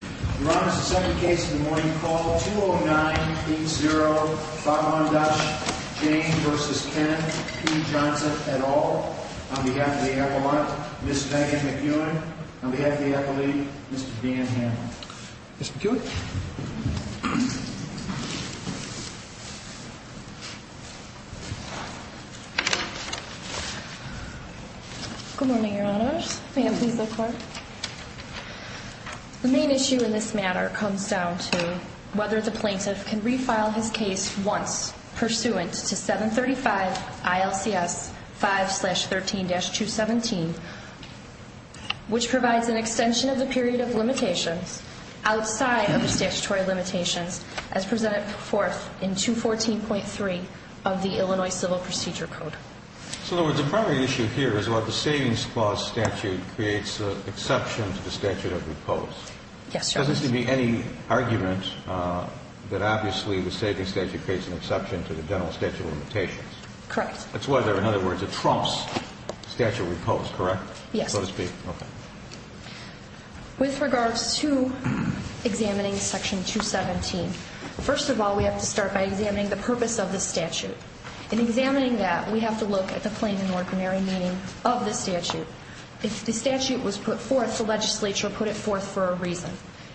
Your Honor, the second case of the morning called 209-80-51-Jain v. Kenneth P. Johnson et al. On behalf of the appellant, Ms. Megan McEwen. On behalf of the appellee, Mr. Dan Hammond. Ms. McEwen. Good morning, Your Honors. May I please look forward? The main issue in this matter comes down to whether the plaintiff can refile his case once pursuant to 735 ILCS 5-13-217, which provides an extension of the period of limitations outside of the statutory limitations as presented forth in 214.3 of the Illinois Civil Procedure Code. In other words, the primary issue here is whether the Savings Clause statute creates an exception to the statute of repose. Yes, Your Honor. There doesn't seem to be any argument that obviously the Savings Statute creates an exception to the general statute of limitations. Correct. That's whether, in other words, it trumps statute of repose, correct? Yes. So to speak. Okay. With regards to examining Section 217, first of all, we have to start by examining the purpose of the statute. In examining that, we have to look at the plain and ordinary meaning of the statute. If the statute was put forth, the legislature put it forth for a reason.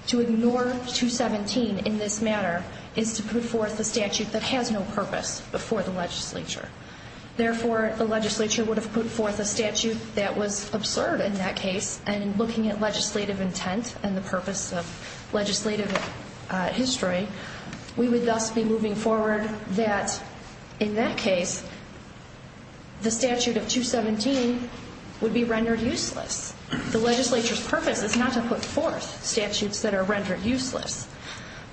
To ignore 217 in this matter is to put forth a statute that has no purpose before the legislature. Therefore, the legislature would have put forth a statute that was absurd in that case. And in looking at legislative intent and the purpose of legislative history, we would thus be moving forward that in that case, the statute of 217 would be rendered useless. The legislature's purpose is not to put forth statutes that are rendered useless,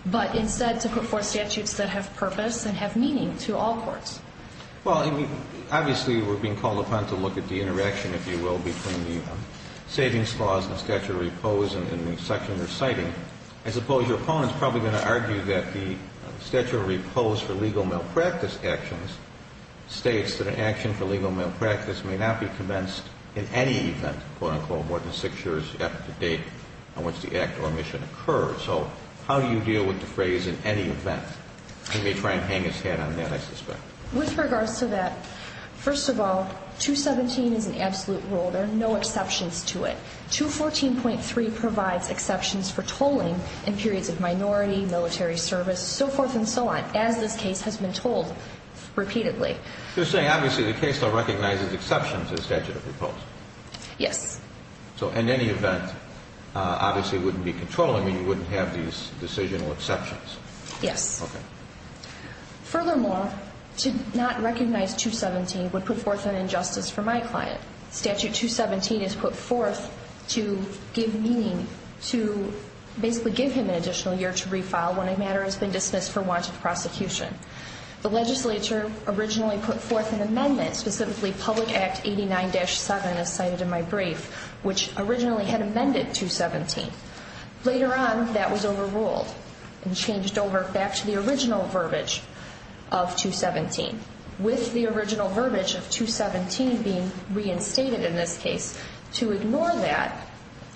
but instead to put forth statutes that have purpose and have meaning to all courts. Well, I mean, obviously, we're being called upon to look at the interaction, if you will, between the savings clause and the statute of repose in the section you're citing. I suppose your opponent's probably going to argue that the statute of repose for legal malpractice actions states that an action for legal malpractice may not be commenced in any event, quote-unquote, more than six years after date on which the act or omission occurred. So how do you deal with the phrase, in any event? He may try and hang his hat on that, I suspect. With regards to that, first of all, 217 is an absolute rule. There are no exceptions to it. 214.3 provides exceptions for tolling in periods of minority, military service, so forth and so on, as this case has been told repeatedly. You're saying, obviously, the case still recognizes exceptions as statute of repose. Yes. So in any event, obviously, it wouldn't be controlling, and you wouldn't have these decisional exceptions. Yes. Okay. Furthermore, to not recognize 217 would put forth an injustice for my client. Statute 217 is put forth to give meaning, to basically give him an additional year to refile when a matter has been dismissed for warranted prosecution. The legislature originally put forth an amendment, specifically Public Act 89-7, as cited in my brief, which originally had amended 217. Later on, that was overruled and changed over back to the original verbiage of 217, with the original verbiage of 217 being reinstated in this case, to ignore that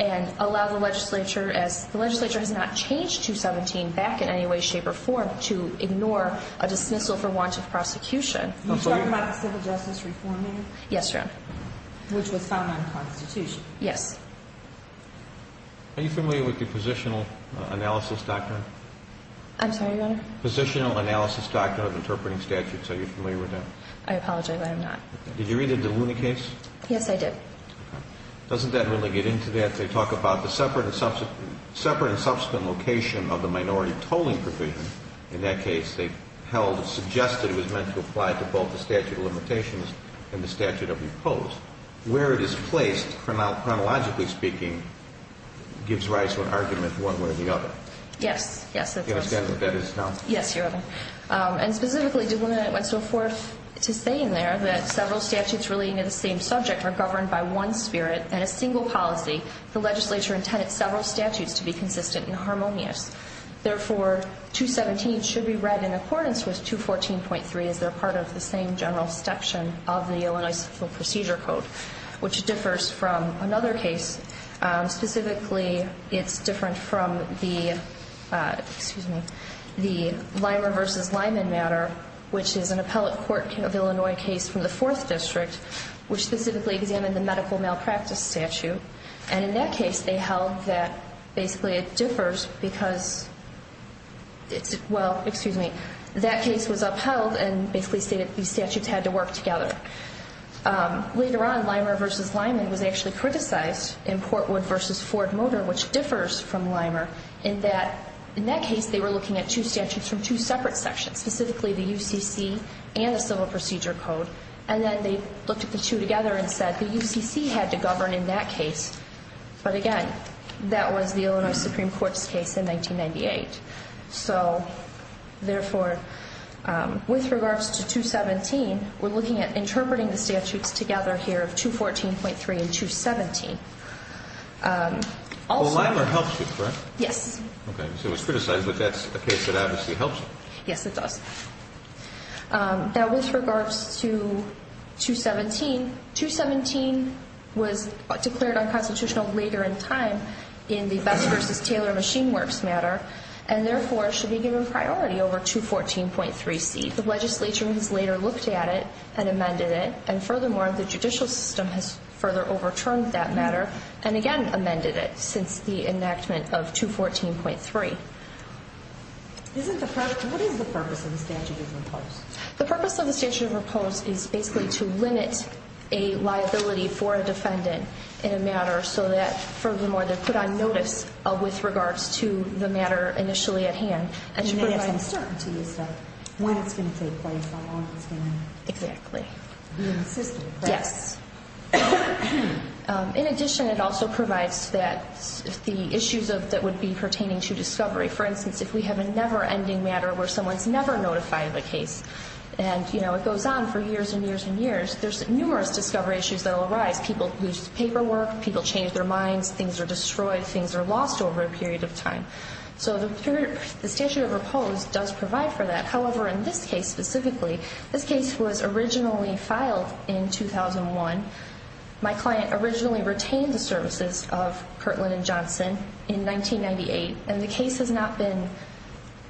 and allow the legislature, as the legislature has not changed 217 back in any way, shape, or form, to ignore a dismissal for warranted prosecution. Are you talking about the Civil Justice Reform Act? Yes, ma'am. Which was found unconstitutional. Yes. Are you familiar with the Positional Analysis Doctrine? I'm sorry, Your Honor? Positional Analysis Doctrine of Interpreting Statutes. Are you familiar with that? I apologize. I am not. Did you read it in the Looney case? Yes, I did. Doesn't that really get into that? They talk about the separate and subsequent location of the minority tolling provision. In that case, they held or suggested it was meant to apply to both the statute of limitations and the statute of repose. Where it is placed, chronologically speaking, gives rise to an argument one way or the other. Yes, yes. Do you understand what that is now? Yes, Your Honor. And specifically, it went so forth to say in there that several statutes relating to the same subject are governed by one spirit and a single policy. The legislature intended several statutes to be consistent and harmonious. Therefore, 217 should be read in accordance with 214.3 as they're part of the same general section of the Illinois Civil Procedure Code, which differs from another case. Specifically, it's different from the Lyman v. Lyman matter, which is an appellate court of Illinois case from the 4th District, which specifically examined the medical malpractice statute. And in that case, they held that basically it differs because it's, well, excuse me, that case was upheld and basically stated these statutes had to work together. Later on, Lyman v. Lyman was actually criticized in Portwood v. Ford Motor, which differs from Lyman in that, in that case, they were looking at two statutes from two separate sections. Specifically, the UCC and the Civil Procedure Code. And then they looked at the two together and said the UCC had to govern in that case. But again, that was the Illinois Supreme Court's case in 1998. So, therefore, with regards to 217, we're looking at interpreting the statutes together here of 214.3 and 217. Also... Well, Lyman helps you, correct? Yes. Okay. So it was criticized, but that's a case that obviously helps you. Yes, it does. Now, with regards to 217, 217 was declared unconstitutional later in time in the Best v. Taylor Machine Works matter. And, therefore, should be given priority over 214.3C. The legislature has later looked at it and amended it. And, furthermore, the judicial system has further overturned that matter and, again, amended it since the enactment of 214.3. What is the purpose of the statute of repose? The purpose of the statute of repose is basically to limit a liability for a defendant in a matter so that, furthermore, they're put on notice with regards to the matter initially at hand. And they have some certainty as to when it's going to take place, how long it's going to be in the system. Yes. In addition, it also provides that the issues that would be pertaining to discovery. For instance, if we have a never-ending matter where someone's never notified of a case and, you know, it goes on for years and years and years, there's numerous discovery issues that will arise. People lose paperwork. People change their minds. Things are destroyed. Things are lost over a period of time. So the statute of repose does provide for that. However, in this case specifically, this case was originally filed in 2001. My client originally retained the services of Kirtland & Johnson in 1998, and the case has not been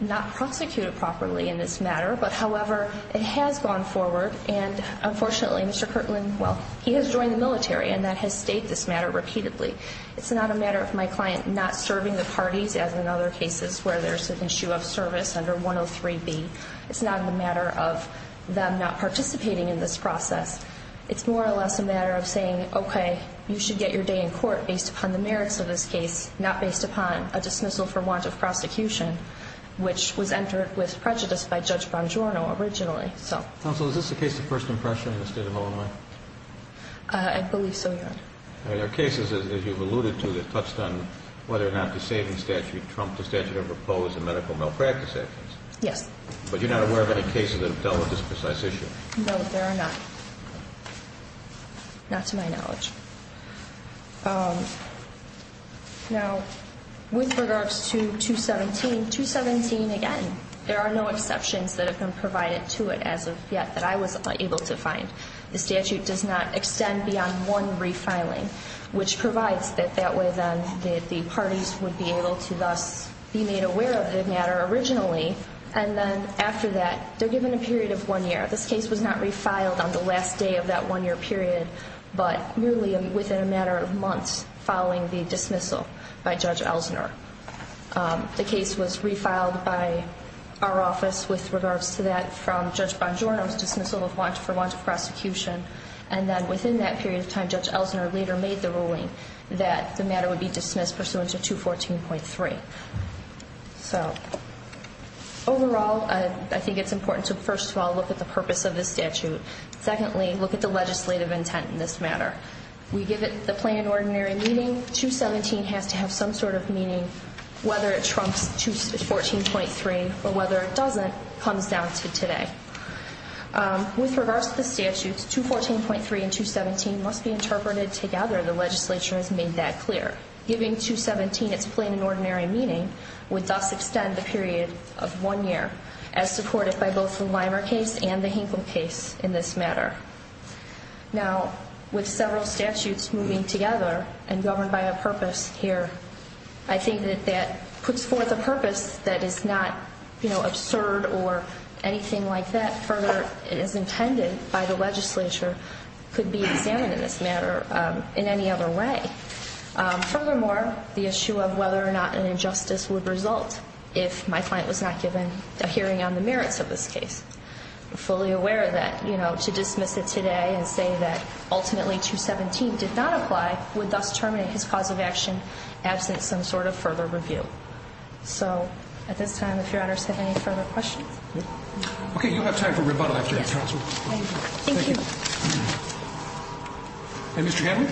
not prosecuted properly in this matter. But, however, it has gone forward and, unfortunately, Mr. Kirtland, well, he has joined the military and that has stayed this matter repeatedly. It's not a matter of my client not serving the parties, as in other cases where there's an issue of service under 103B. It's not a matter of them not participating in this process. It's more or less a matter of saying, okay, you should get your day in court based upon the merits of this case, not based upon a dismissal for want of prosecution, which was entered with prejudice by Judge Bongiorno originally. Counsel, is this a case of first impression in the state of Illinois? I believe so, Your Honor. There are cases, as you've alluded to, that touched on whether or not the savings statute trumped the statute of repose and medical malpractice actions. Yes. But you're not aware of any cases that have dealt with this precise issue? No, there are not, not to my knowledge. Now, with regards to 217, 217, again, there are no exceptions that have been provided to it as of yet that I was able to find. The statute does not extend beyond one refiling, which provides that that way then the parties would be able to thus be made aware of the matter originally. And then after that, they're given a period of one year. This case was not refiled on the last day of that one-year period, but nearly within a matter of months following the dismissal by Judge Elsner. The case was refiled by our office with regards to that from Judge Bongiorno's dismissal for want of prosecution. And then within that period of time, Judge Elsner later made the ruling that the matter would be dismissed pursuant to 214.3. So, overall, I think it's important to, first of all, look at the purpose of the statute. Secondly, look at the legislative intent in this matter. We give it the plain and ordinary meaning. 217 has to have some sort of meaning, whether it trumps 214.3 or whether it doesn't comes down to today. With regards to the statutes, 214.3 and 217 must be interpreted together. The legislature has made that clear. Giving 217 its plain and ordinary meaning would thus extend the period of one year, as supported by both the Limer case and the Hinkle case in this matter. Now, with several statutes moving together and governed by a purpose here, I think that that puts forth a purpose that is not, you know, absurd or anything like that. Further, it is intended by the legislature could be examined in this matter in any other way. Furthermore, the issue of whether or not an injustice would result if my client was not given a hearing on the merits of this case. I'm fully aware of that. You know, to dismiss it today and say that ultimately 217 did not apply would thus terminate his cause of action absent some sort of further review. So, at this time, if your honors have any further questions. Okay, you have time for rebuttal after that, counsel. Thank you. And Mr. Hanley?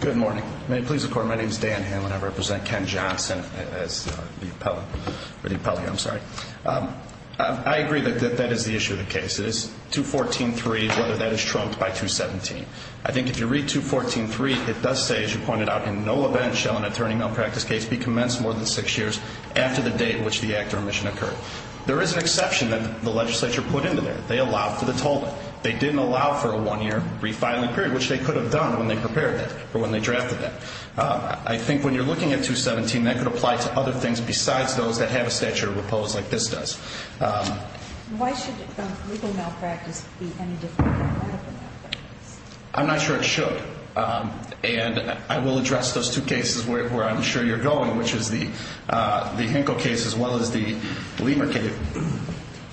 Good morning. May it please the court. My name is Dan Hanley. I represent Ken Johnson as the appellate. I'm sorry. I agree that that is the issue of the case. It is 214.3, whether that is trumped by 217. I think if you read 214.3, it does say, as you pointed out, in no event shall an attorney malpractice case be commenced more than six years after the date at which the act or omission occurred. There is an exception that the legislature put into there. They allowed for the tolling. They didn't allow for a one-year refiling period, which they could have done when they prepared that or when they drafted that. I think when you're looking at 217, that could apply to other things besides those that have a statute of repose like this does. Why should a legal malpractice be any different than a legal malpractice? I'm not sure it should. And I will address those two cases where I'm sure you're going, which is the Hinkle case as well as the Lehmer case.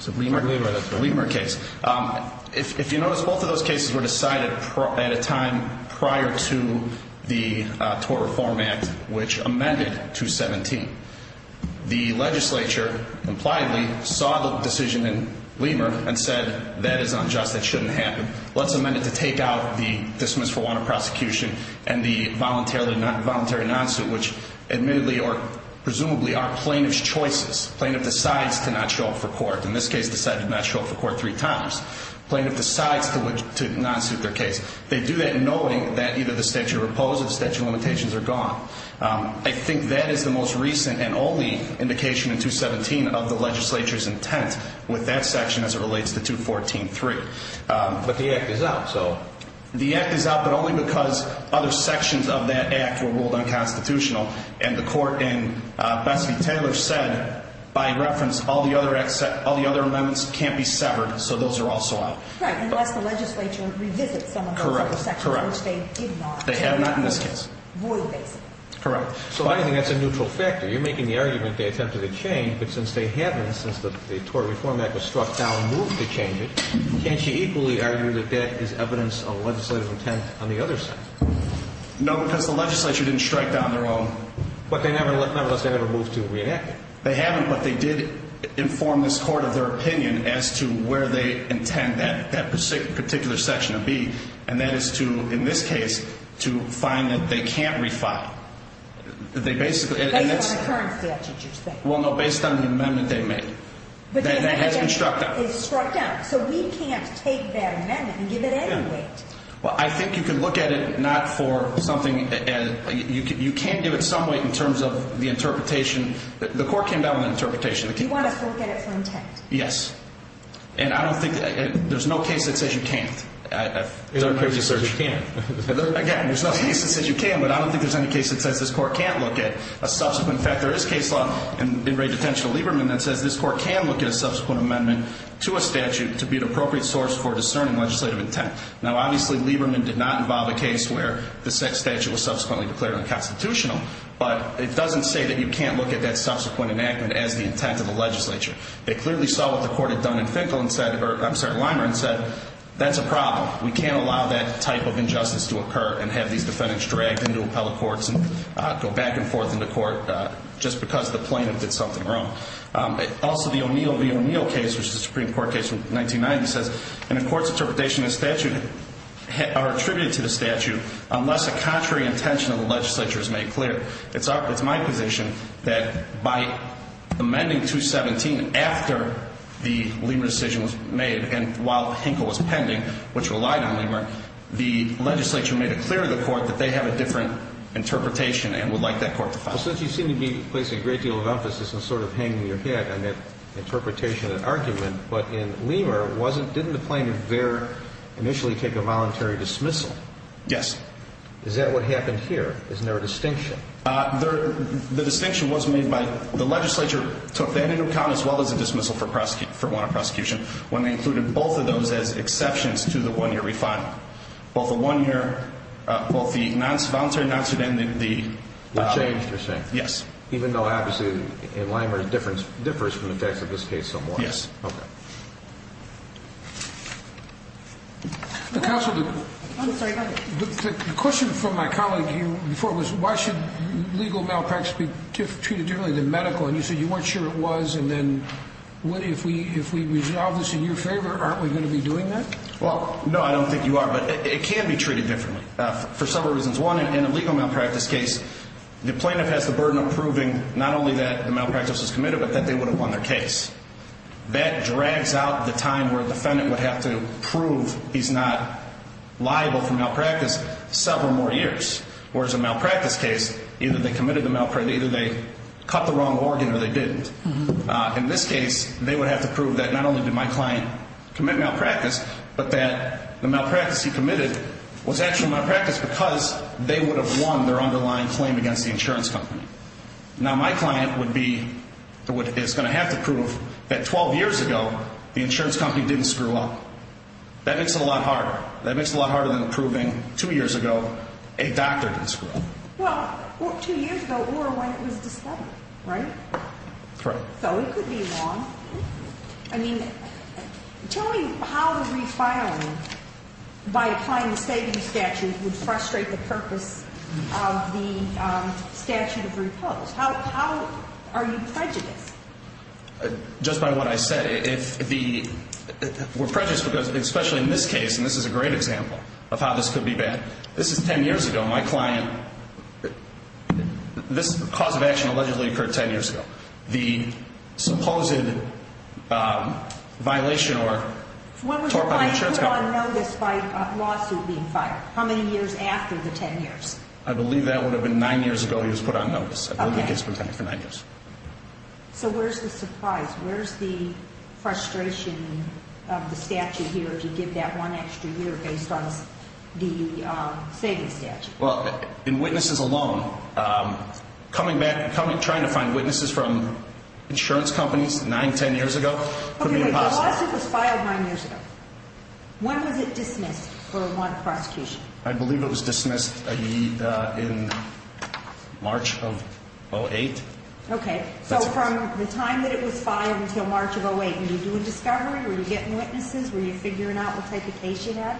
The Lehmer case. If you notice, both of those cases were decided at a time prior to the Tort Reform Act, which amended 217. The legislature, impliedly, saw the decision in Lehmer and said, that is unjust. That shouldn't happen. Let's amend it to take out the dismissal warrant of prosecution and the voluntary non-suit, which admittedly or presumably are plaintiff's choices. Plaintiff decides to not show up for court. In this case, decided to not show up for court three times. Plaintiff decides to non-suit their case. They do that knowing that either the statute of repose or the statute of limitations are gone. I think that is the most recent and only indication in 217 of the legislature's intent with that section as it relates to 214.3. But the act is out, so. Because other sections of that act were ruled unconstitutional. And the court in Bessie-Taylor said, by reference, all the other amendments can't be severed, so those are also out. Right, unless the legislature revisits some of those other sections, which they did not. They have not in this case. Royal basis. Correct. So I think that's a neutral factor. You're making the argument they attempted to change, but since they haven't, since the Tort Reform Act was struck down and moved to change it, can't you equally argue that that is evidence of legislative intent on the other side? No, because the legislature didn't strike down their own. But they never, nevertheless, they never moved to reenact it. They haven't, but they did inform this court of their opinion as to where they intend that particular section to be. And that is to, in this case, to find that they can't refile. Based on the current statute, you're saying? Well, no, based on the amendment they made. That has been struck down. So we can't take that amendment and give it any weight. Well, I think you can look at it not for something, you can give it some weight in terms of the interpretation. The court came down with an interpretation. You want us to look at it for intent? Yes. And I don't think, there's no case that says you can't. There are cases that say you can. Again, there's no case that says you can, but I don't think there's any case that says this court can't look at a subsequent fact. to a statute to be an appropriate source for discerning legislative intent. Now, obviously, Lieberman did not involve a case where the statute was subsequently declared unconstitutional, but it doesn't say that you can't look at that subsequent enactment as the intent of the legislature. They clearly saw what the court had done in Finkel and said, or I'm sorry, Leimer and said, that's a problem. We can't allow that type of injustice to occur and have these defendants dragged into appellate courts and go back and forth into court just because the plaintiff did something wrong. Also, the O'Neill v. O'Neill case, which is a Supreme Court case from 1990, says in a court's interpretation, the statute are attributed to the statute unless a contrary intention of the legislature is made clear. It's my position that by amending 217 after the Lieberman decision was made and while Finkel was pending, which relied on Lieberman, the legislature made it clear to the court that they have a different interpretation and would like that court to follow. Well, since you seem to be placing a great deal of emphasis and sort of hanging your head on that interpretation and argument, but in Lieber, didn't the plaintiff there initially take a voluntary dismissal? Yes. Is that what happened here? Isn't there a distinction? The distinction was made by the legislature took that into account as well as a dismissal for warrant of prosecution when they included both of those as exceptions to the one-year refinement. Both the one-year, both the non-voluntary and the voluntary. They changed, you're saying? Yes. Even though, obviously, in Lieber, it differs from the facts of this case somewhat. Yes. Okay. Counsel, the question from my colleague before was why should legal malpractice be treated differently than medical? And you said you weren't sure it was, and then if we resolve this in your favor, aren't we going to be doing that? Well, no, I don't think you are, but it can be treated differently for several reasons. One, in a legal malpractice case, the plaintiff has the burden of proving not only that the malpractice was committed, but that they would have won their case. That drags out the time where a defendant would have to prove he's not liable for malpractice several more years, whereas a malpractice case, either they committed the malpractice, either they cut the wrong organ or they didn't. In this case, they would have to prove that not only did my client commit malpractice, but that the malpractice he committed was actually malpractice because they would have won their underlying claim against the insurance company. Now, my client is going to have to prove that 12 years ago, the insurance company didn't screw up. That makes it a lot harder. That makes it a lot harder than proving two years ago a doctor didn't screw up. Well, two years ago or when it was discovered, right? Correct. So it could be wrong. I mean, tell me how the refiling by applying the savings statute would frustrate the purpose of the statute of repose. How are you prejudiced? Just by what I said, if the – we're prejudiced because, especially in this case, and this is a great example of how this could be bad. This is 10 years ago. My client – this cause of action allegedly occurred 10 years ago. The supposed violation or – When was your client put on notice by a lawsuit being filed? How many years after the 10 years? I believe that would have been nine years ago he was put on notice. I believe he gets pretended for nine years. So where's the surprise? Where's the frustration of the statute here if you give that one extra year based on the savings statute? Well, in witnesses alone, coming back and trying to find witnesses from insurance companies nine, 10 years ago could be impossible. Okay, but the lawsuit was filed nine years ago. When was it dismissed for a wanted prosecution? I believe it was dismissed in March of 2008. Okay. So from the time that it was filed until March of 2008, were you doing discovery? Were you getting witnesses? Were you figuring out what type of case you had?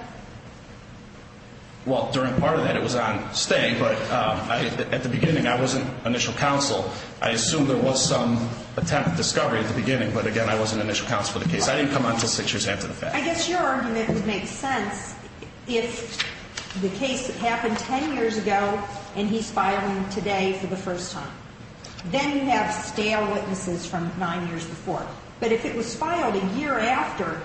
Well, during part of that it was on stay, but at the beginning I wasn't initial counsel. I assume there was some attempt at discovery at the beginning, but, again, I wasn't initial counsel for the case. I didn't come on until six years after the fact. I guess your argument would make sense if the case happened 10 years ago and he's filing today for the first time. Then you have stale witnesses from nine years before. But if it was filed a year after,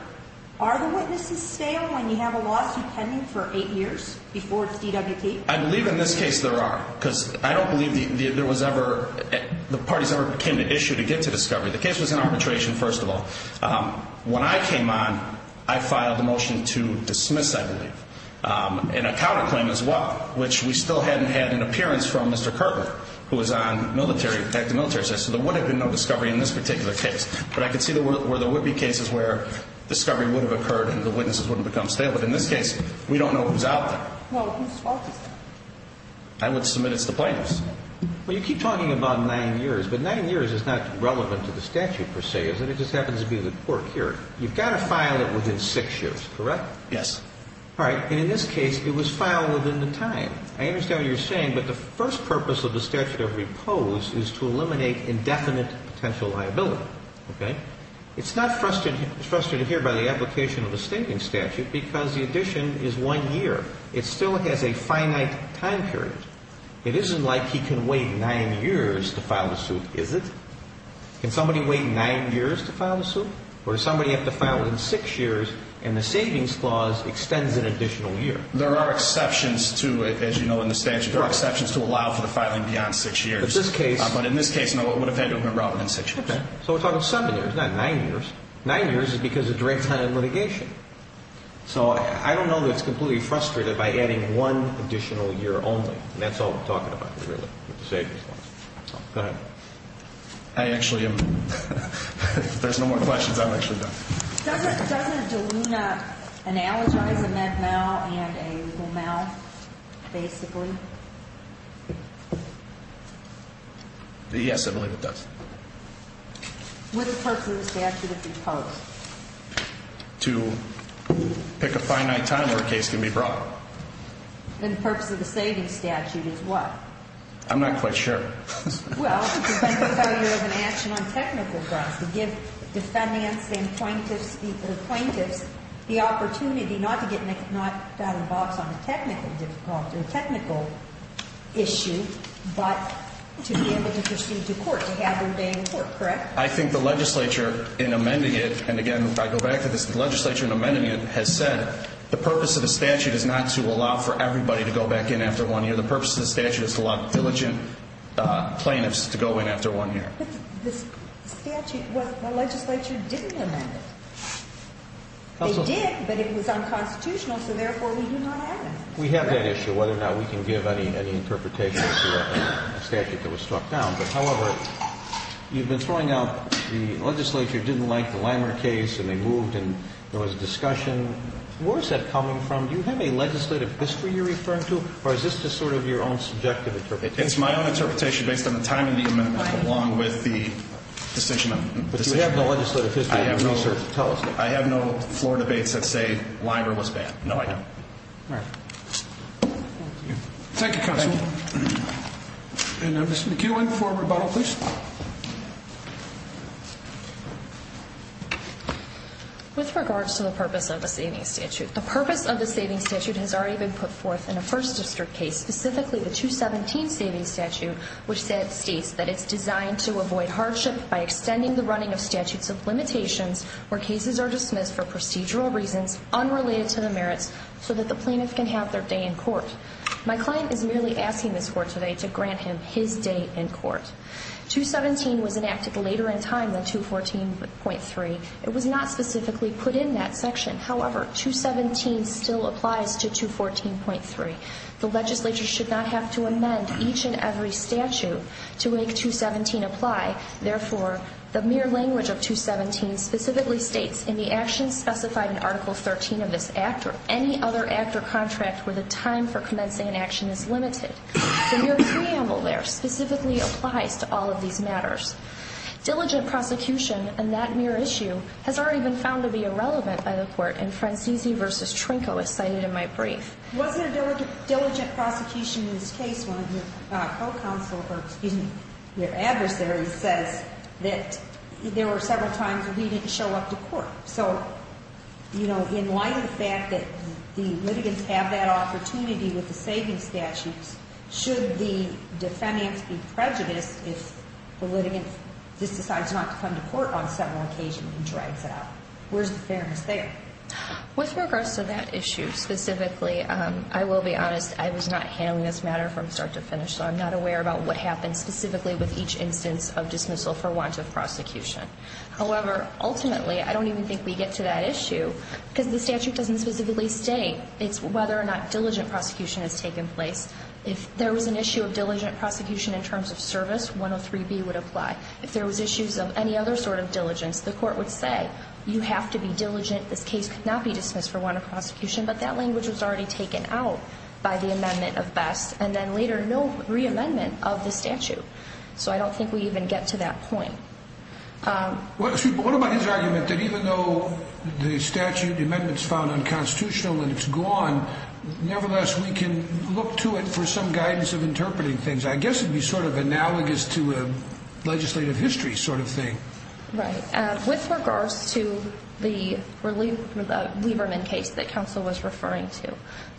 are the witnesses stale when you have a lawsuit pending for eight years before it's DWP? I believe in this case there are because I don't believe there was ever the parties ever came to issue to get to discovery. The case was in arbitration, first of all. When I came on, I filed a motion to dismiss, I believe, and a counterclaim as well, which we still hadn't had an appearance from Mr. Kerber, who was on military, detective military. So there would have been no discovery in this particular case. But I could see where there would be cases where discovery would have occurred and the witnesses wouldn't become stale. But in this case, we don't know who's out there. Well, who's fault is that? I would submit it's the plaintiffs. Well, you keep talking about nine years, but nine years is not relevant to the statute per se, is it? It just happens to be the court here. You've got to file it within six years, correct? Yes. All right. And in this case, it was filed within the time. I understand what you're saying, but the first purpose of the statute of repose is to eliminate indefinite potential liability. Okay? It's not frustrated here by the application of a stinking statute because the addition is one year. It still has a finite time period. It isn't like he can wait nine years to file a suit, is it? Can somebody wait nine years to file a suit? Or does somebody have to file it in six years and the savings clause extends an additional year? There are exceptions to it, as you know, in the statute. There are exceptions to allow for the filing beyond six years. But in this case, no, it would have had to have been filed within six years. Okay. So we're talking seven years, not nine years. Nine years is because of direct time of litigation. So I don't know that it's completely frustrated by adding one additional year only. And that's all I'm talking about, really, with the savings clause. Go ahead. I actually am. If there's no more questions, I'm actually done. Doesn't DELUNA analogize a med mal and a legal mal, basically? Yes, I believe it does. What is the purpose of the statute of repose? To pick a finite time where a case can be brought. Then the purpose of the savings statute is what? I'm not quite sure. Well, it depends on how you have an action on technical grounds. To give defendants and plaintiffs the opportunity not to get involved on a technical issue, but to be able to proceed to court, to have their day in court, correct? I think the legislature, in amending it, and, again, I go back to this, the legislature in amending it has said the purpose of the statute is not to allow for everybody to go back in after one year. The purpose of the statute is to allow diligent plaintiffs to go in after one year. But the legislature didn't amend it. They did, but it was unconstitutional, so therefore we do not have it. We have that issue, whether or not we can give any interpretation to a statute that was struck down. However, you've been throwing out the legislature didn't like the Limer case, and they moved and there was discussion. Where is that coming from? Do you have a legislative history you're referring to, or is this just sort of your own subjective interpretation? It's my own interpretation based on the timing of the amendment along with the decision of decision. But you have no legislative history. I have no floor debates that say Limer was banned. No, I don't. All right. Thank you, counsel. Thank you. And Ms. McEwen for rebuttal, please. With regards to the purpose of the savings statute, the purpose of the savings statute has already been put forth in a first district case, specifically the 217 savings statute, which states that it's designed to avoid hardship by extending the running of statutes of limitations where cases are dismissed for procedural reasons unrelated to the merits so that the plaintiff can have their day in court. My client is merely asking this court today to grant him his day in court. 217 was enacted later in time than 214.3. It was not specifically put in that section. However, 217 still applies to 214.3. The legislature should not have to amend each and every statute to make 217 apply. Therefore, the mere language of 217 specifically states in the actions specified in Article 13 of this act or any other act or contract where the time for commencing an action is limited. The mere preamble there specifically applies to all of these matters. Diligent prosecution in that mere issue has already been found to be irrelevant by the court in Francisi v. Trinco, as cited in my brief. It wasn't a diligent prosecution in this case. One of your co-counsel, or excuse me, your adversaries says that there were several times where he didn't show up to court. So, you know, in light of the fact that the litigants have that opportunity with the savings statutes, should the defendants be prejudiced if the litigant just decides not to come to court on several occasions and drags it out? Where's the fairness there? With regards to that issue specifically, I will be honest, I was not handling this matter from start to finish, so I'm not aware about what happens specifically with each instance of dismissal for want of prosecution. However, ultimately, I don't even think we get to that issue because the statute doesn't specifically state. It's whether or not diligent prosecution has taken place. If there was an issue of diligent prosecution in terms of service, 103B would apply. If there was issues of any other sort of diligence, the court would say, you have to be diligent. This case could not be dismissed for want of prosecution. But that language was already taken out by the amendment of Best, and then later no re-amendment of the statute. So I don't think we even get to that point. What about his argument that even though the statute, the amendment's found unconstitutional and it's gone, nevertheless, we can look to it for some guidance of interpreting things? I guess it would be sort of analogous to a legislative history sort of thing. Right. With regards to the Lieberman case that counsel was referring to,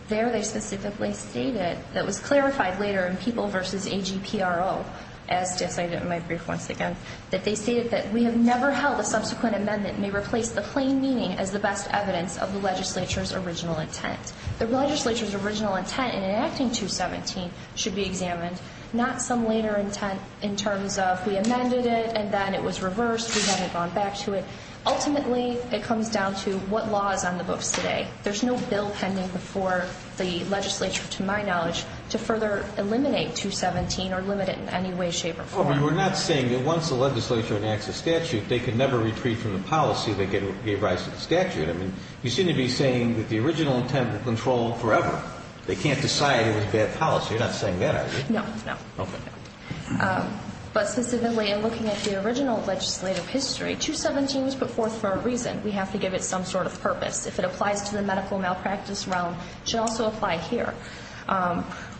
there they specifically stated, that was clarified later in People v. AGPRO, as stated in my brief once again, that they stated that we have never held a subsequent amendment may replace the plain meaning as the best evidence of the legislature's original intent. The legislature's original intent in enacting 217 should be examined, not some later intent in terms of we amended it and then it was reversed, we haven't gone back to it. Ultimately, it comes down to what law is on the books today. There's no bill pending before the legislature, to my knowledge, to further eliminate 217 or limit it in any way, shape, or form. Well, we're not saying that once the legislature enacts a statute, they can never retreat from the policy that gave rise to the statute. I mean, you seem to be saying that the original intent was controlled forever. They can't decide it was bad policy. You're not saying that, are you? No, no. Okay. But specifically in looking at the original legislative history, 217 was put forth for a reason. We have to give it some sort of purpose. If it applies to the medical malpractice realm, it should also apply here.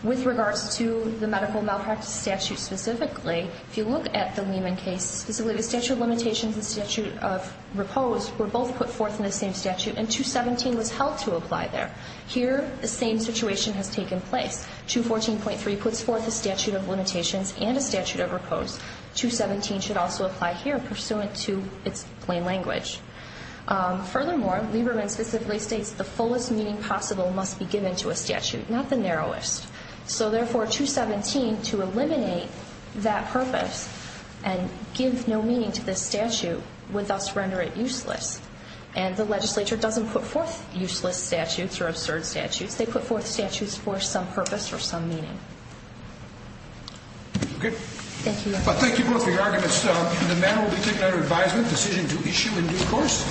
With regards to the medical malpractice statute specifically, if you look at the Lieberman case, specifically the statute of limitations and the statute of repose were both put forth in the same statute, and 217 was held to apply there. Here, the same situation has taken place. 214.3 puts forth a statute of limitations and a statute of repose. 217 should also apply here, pursuant to its plain language. Furthermore, Lieberman specifically states the fullest meaning possible must be given to a statute, not the narrowest. So, therefore, 217, to eliminate that purpose and give no meaning to this statute, would thus render it useless. And the legislature doesn't put forth useless statutes or absurd statutes. They put forth statutes for some purpose or some meaning. Okay. Thank you. Thank you both for your arguments. The matter will be taken under advisement, decision to issue in due course.